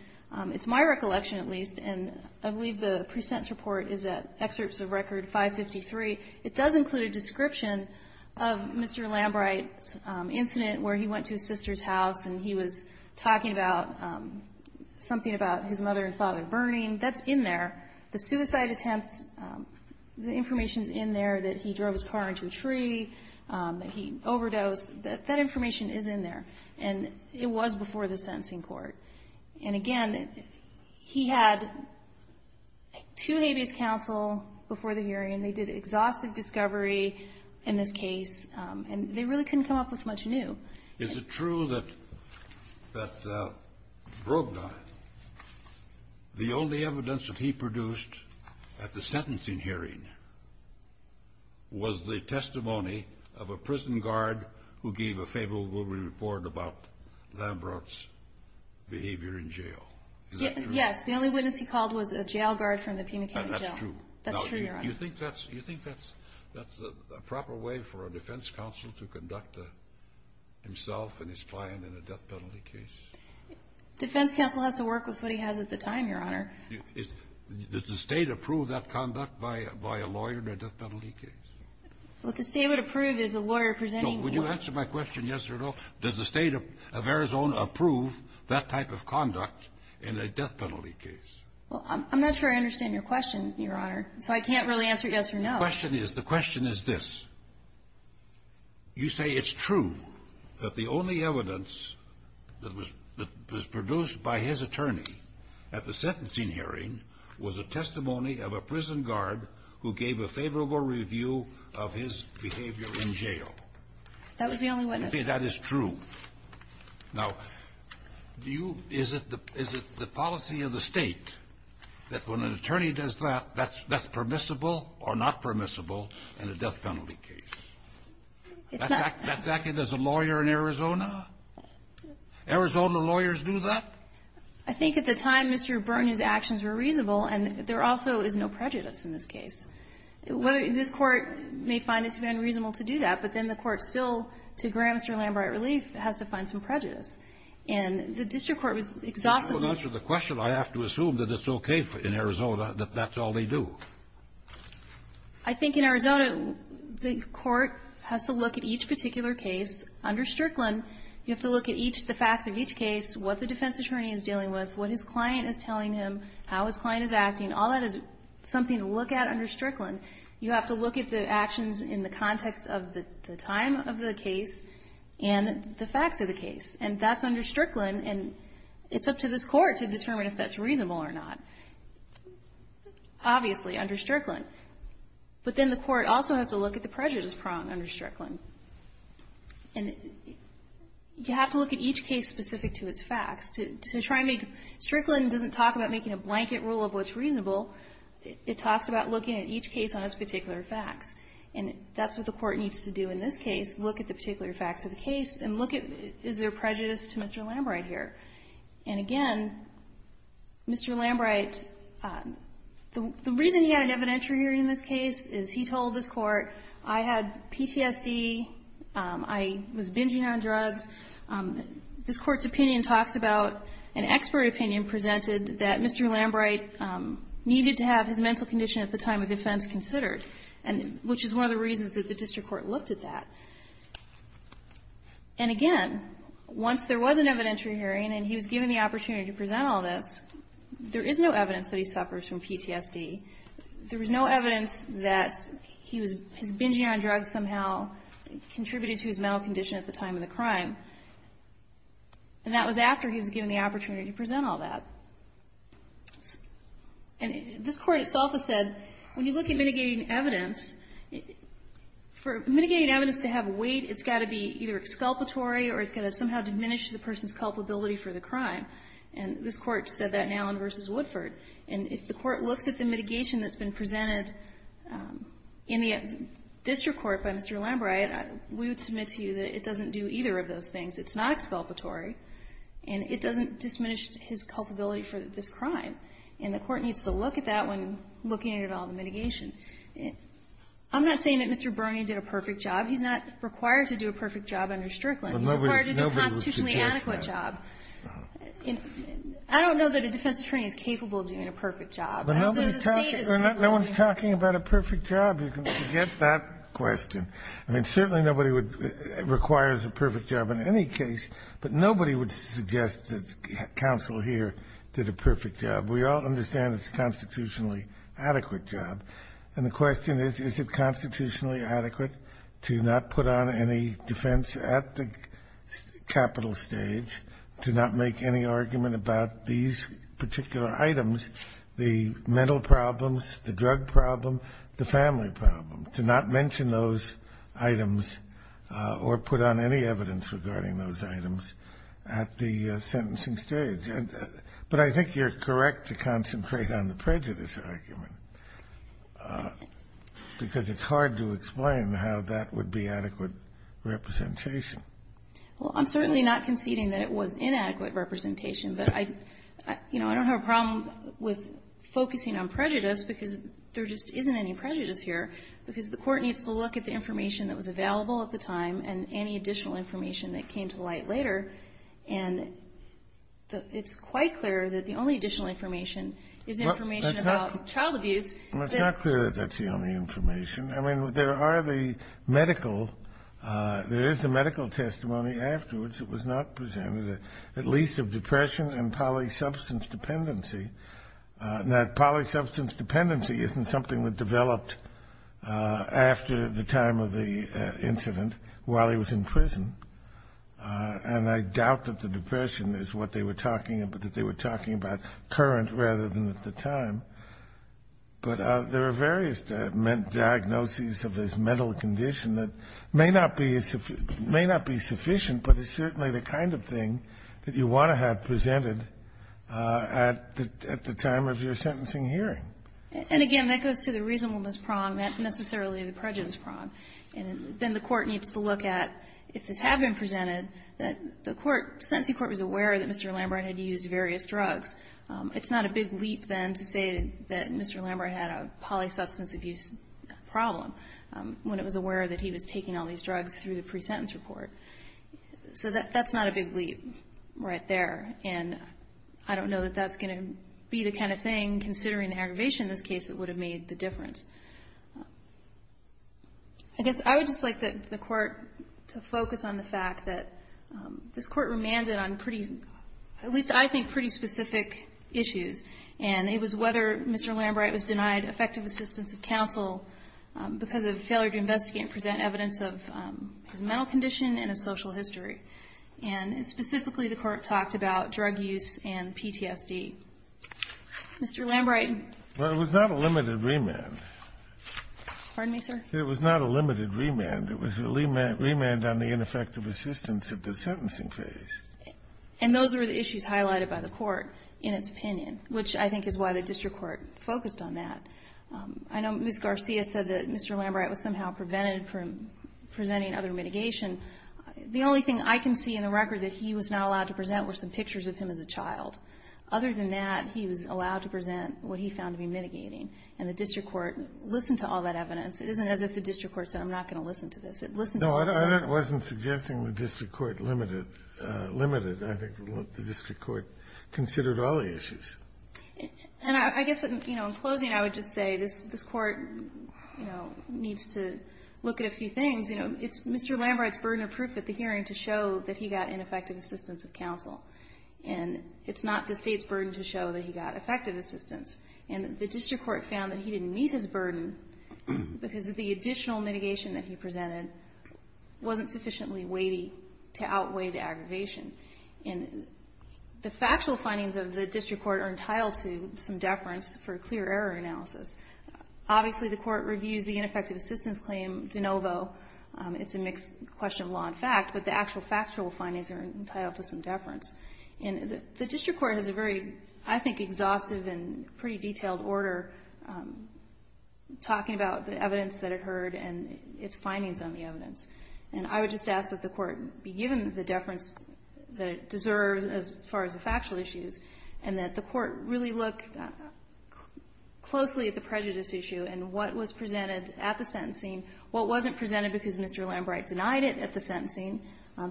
It's my recollection, at least, and I believe the pre-sentence report is at Excerpts of Record 553. It does include a description of Mr. Lambright's incident where he went to his sister's house and he was talking about something about his mother and father burning. That's in there. The suicide attempts, the information is in there that he drove his car into a tree, that he overdosed. That information is in there. And it was before the sentencing court. And, again, he had two habeas counsel before the hearing. They did exhaustive discovery in this case. And they really couldn't come up with much new. Is it true that Brogdon, the only evidence that he produced at the sentencing hearing was the testimony of a prison guard who gave a favorable report about Lambright's behavior in jail? Is that true? Yes. The only witness he called was a jail guard from the Pima County Jail. That's true. That's true, Your Honor. Now, do you think that's a proper way for a defense counsel to conduct himself and his client in a death penalty case? Defense counsel has to work with what he has at the time, Your Honor. Does the State approve that conduct by a lawyer in a death penalty case? What the State would approve is a lawyer presenting one. Would you answer my question yes or no? Does the State of Arizona approve that type of conduct in a death penalty case? Well, I'm not sure I understand your question, Your Honor. So I can't really answer yes or no. The question is, the question is this. You say it's true that the only evidence that was produced by his attorney at the sentencing hearing was a testimony of a prison guard who gave a favorable review of his behavior in jail. That was the only witness. You say that is true. Now, do you – is it the policy of the State that when an attorney does that, that's permissible or not permissible in a death penalty case? It's not. That's acted as a lawyer in Arizona? Arizona lawyers do that? I think at the time, Mr. Burton's actions were reasonable, and there also is no prejudice in this case. This Court may find it to be unreasonable to do that, but then the Court still, to grant Mr. Lambert relief, has to find some prejudice. And the district court was exhausted. In order to answer the question, I have to assume that it's okay in Arizona, that that's all they do. I think in Arizona, the Court has to look at each particular case under Strickland. You have to look at the facts of each case, what the defense attorney is dealing with, what his client is telling him, how his client is acting. All that is something to look at under Strickland. You have to look at the actions in the context of the time of the case and the facts of the case. And that's under Strickland, and it's up to this Court to determine if that's reasonable or not. Obviously, under Strickland. But then the Court also has to look at the prejudice prong under Strickland. And you have to look at each case specific to its facts. To try and make Strickland doesn't talk about making a blanket rule of what's reasonable. It talks about looking at each case on its particular facts. And that's what the Court needs to do in this case, look at the particular facts of the case and look at is there prejudice to Mr. Lambert here. And again, Mr. Lambert, the reason he had an evidentiary hearing in this case is he was binging on drugs. This Court's opinion talks about an expert opinion presented that Mr. Lambert needed to have his mental condition at the time of the offense considered, which is one of the reasons that the district court looked at that. And again, once there was an evidentiary hearing and he was given the opportunity to present all this, there is no evidence that he suffers from PTSD. There was no evidence that his binging on drugs somehow contributed to his mental condition at the time of the crime. And that was after he was given the opportunity to present all that. And this Court itself has said when you look at mitigating evidence, for mitigating evidence to have weight, it's got to be either exculpatory or it's got to somehow diminish the person's culpability for the crime. And this Court said that in Allen v. Woodford. And if the Court looks at the mitigation that's been presented in the district court by Mr. Lambert, we would submit to you that it doesn't do either of those things. It's not exculpatory. And it doesn't diminish his culpability for this crime. And the Court needs to look at that when looking at all the mitigation. I'm not saying that Mr. Bernie did a perfect job. He's not required to do a perfect job under Strickland. He's required to do a constitutionally adequate job. I don't know that a defense attorney is capable of doing a perfect job. I don't think the State is. Kennedy. No one's talking about a perfect job. You can forget that question. I mean, certainly nobody would require a perfect job in any case, but nobody would suggest that counsel here did a perfect job. We all understand it's a constitutionally adequate job. And the question is, is it constitutionally adequate to not put on any defense at the capital stage to not make any argument about these particular items, the mental problems, the drug problem, the family problem, to not mention those items or put on any evidence regarding those items at the sentencing stage? But I think you're correct to concentrate on the prejudice argument, because it's Well, I'm certainly not conceding that it was inadequate representation. But I don't have a problem with focusing on prejudice, because there just isn't any prejudice here, because the Court needs to look at the information that was available at the time and any additional information that came to light later. And it's quite clear that the only additional information is information about child abuse. That's not clear that that's the only information. I mean, there are the medical, there is a medical testimony afterwards that was not presented, at least of depression and polysubstance dependency. Now, polysubstance dependency isn't something that developed after the time of the incident while he was in prison. And I doubt that the depression is what they were talking about, that they were talking about current rather than at the time. But there are various diagnoses of this mental condition that may not be sufficient, but is certainly the kind of thing that you want to have presented at the time of your sentencing hearing. And again, that goes to the reasonableness prong, not necessarily the prejudice prong. And then the Court needs to look at, if this had been presented, that the court, the sentencing court was aware that Mr. Lambert had used various drugs. It's not a big leap then to say that Mr. Lambert had a polysubstance abuse problem when it was aware that he was taking all these drugs through the pre-sentence report. So that's not a big leap right there. And I don't know that that's going to be the kind of thing, considering the aggravation in this case, that would have made the difference. I guess I would just like the Court to focus on the fact that this Court remanded on pretty, at least I think pretty specific issues, and it was whether Mr. Lambert was denied effective assistance of counsel because of failure to investigate and present evidence of his mental condition and his social history. And specifically, the Court talked about drug use and PTSD. Mr. Lambert. Well, it was not a limited remand. Pardon me, sir? It was not a limited remand. It was a remand on the ineffective assistance of the sentencing case. And those were the issues highlighted by the Court in its opinion, which I think is why the district court focused on that. I know Ms. Garcia said that Mr. Lambert was somehow prevented from presenting other mitigation. The only thing I can see in the record that he was not allowed to present were some pictures of him as a child. Other than that, he was allowed to present what he found to be mitigating. And the district court listened to all that evidence. It isn't as if the district court said, I'm not going to listen to this. It listened to all the evidence. Well, that wasn't suggesting the district court limited. I think the district court considered all the issues. And I guess, you know, in closing, I would just say this Court, you know, needs to look at a few things. You know, it's Mr. Lambert's burden of proof at the hearing to show that he got ineffective assistance of counsel. And it's not the State's burden to show that he got effective assistance. And the district court found that he didn't meet his burden because of the additional mitigation that he presented wasn't sufficiently weighty to outweigh the aggravation. And the factual findings of the district court are entitled to some deference for a clear error analysis. Obviously, the court reviews the ineffective assistance claim de novo. It's a mixed question of law and fact. But the actual factual findings are entitled to some deference. And the district court has a very, I think, exhaustive and pretty detailed order talking about the evidence that it heard and its findings on the evidence. And I would just ask that the court be given the deference that it deserves as far as the factual issues and that the court really look closely at the prejudice issue and what was presented at the sentencing, what wasn't presented because Mr. Lambert denied it at the sentencing,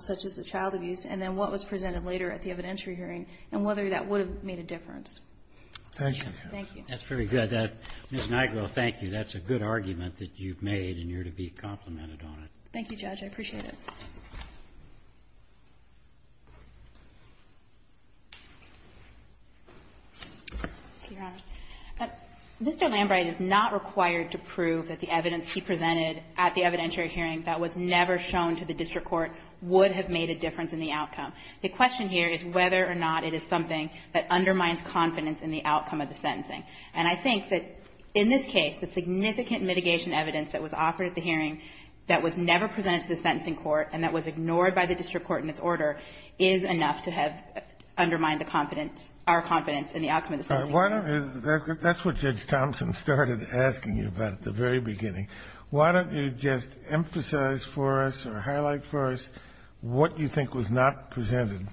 such as the child abuse, and then what was presented later at the evidentiary hearing and whether that would have made a difference. Thank you. Thank you. That's very good. Ms. Nigro, thank you. That's a good argument that you've made, and you're to be complimented on it. Thank you, Judge. I appreciate it. Mr. Lambert is not required to prove that the evidence he presented at the evidentiary hearing that was never shown to the district court would have made a difference in the outcome. The question here is whether or not it is something that undermines confidence in the outcome of the sentencing. And I think that in this case, the significant mitigation evidence that was offered at the hearing that was never presented to the sentencing court and that was ignored by the district court in its order is enough to have undermined the confidence or confidence in the outcome of the sentencing hearing. That's what Judge Thompson started asking you about at the very beginning. Why don't you just emphasize for us or highlight for us what you think was not presented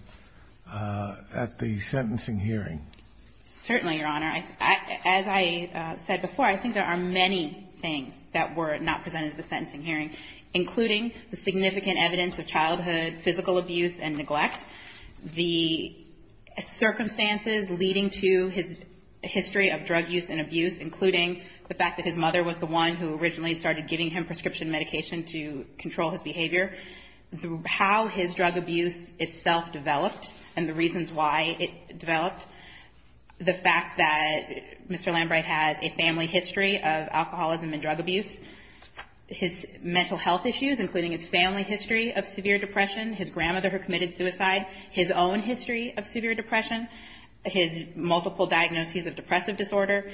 at the sentencing hearing? Certainly, Your Honor. As I said before, I think there are many things that were not presented at the sentencing hearing, including the significant evidence of childhood physical abuse and neglect, the circumstances leading to his history of drug use and abuse, including the fact that his mother was the one who originally started giving him prescription medication to control his behavior, how his drug abuse itself developed and the reasons why it developed, the fact that Mr. Lambright has a family history of alcoholism and drug abuse, his mental health issues, including his family history of severe depression, his grandmother who committed suicide, his own history of severe depression, his multiple diagnoses of depressive disorder,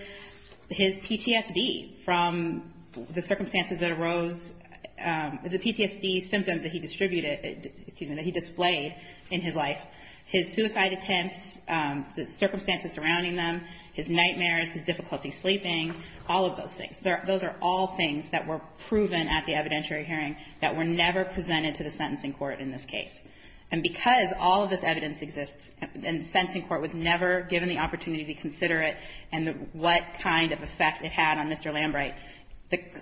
his PTSD from the circumstances that arose, the PTSD symptoms that he displayed in his life, his suicide attempts, the circumstances surrounding them, his nightmares, his difficulty sleeping, all of those things. Those are all things that were proven at the evidentiary hearing that were never presented to the sentencing court in this case. And because all of this evidence exists and the sentencing court was never given the opportunity to consider it and what kind of effect it had on Mr. Lambright,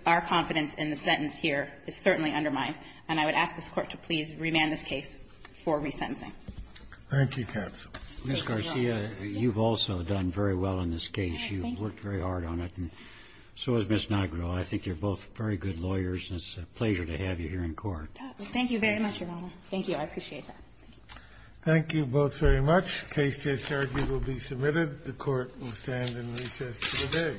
our confidence in the sentence here is certainly undermined. And I would ask this Court to please remand this case for resentencing. Thank you, counsel. Ms. Garcia, you've also done very well in this case. You've worked very hard on it, and so has Ms. Nagro. I think you're both very good lawyers, and it's a pleasure to have you here in court. Thank you very much, Your Honor. Thank you. I appreciate that. Thank you both very much. Case J. Sergi will be submitted. The Court will stand in recess today. Thank you.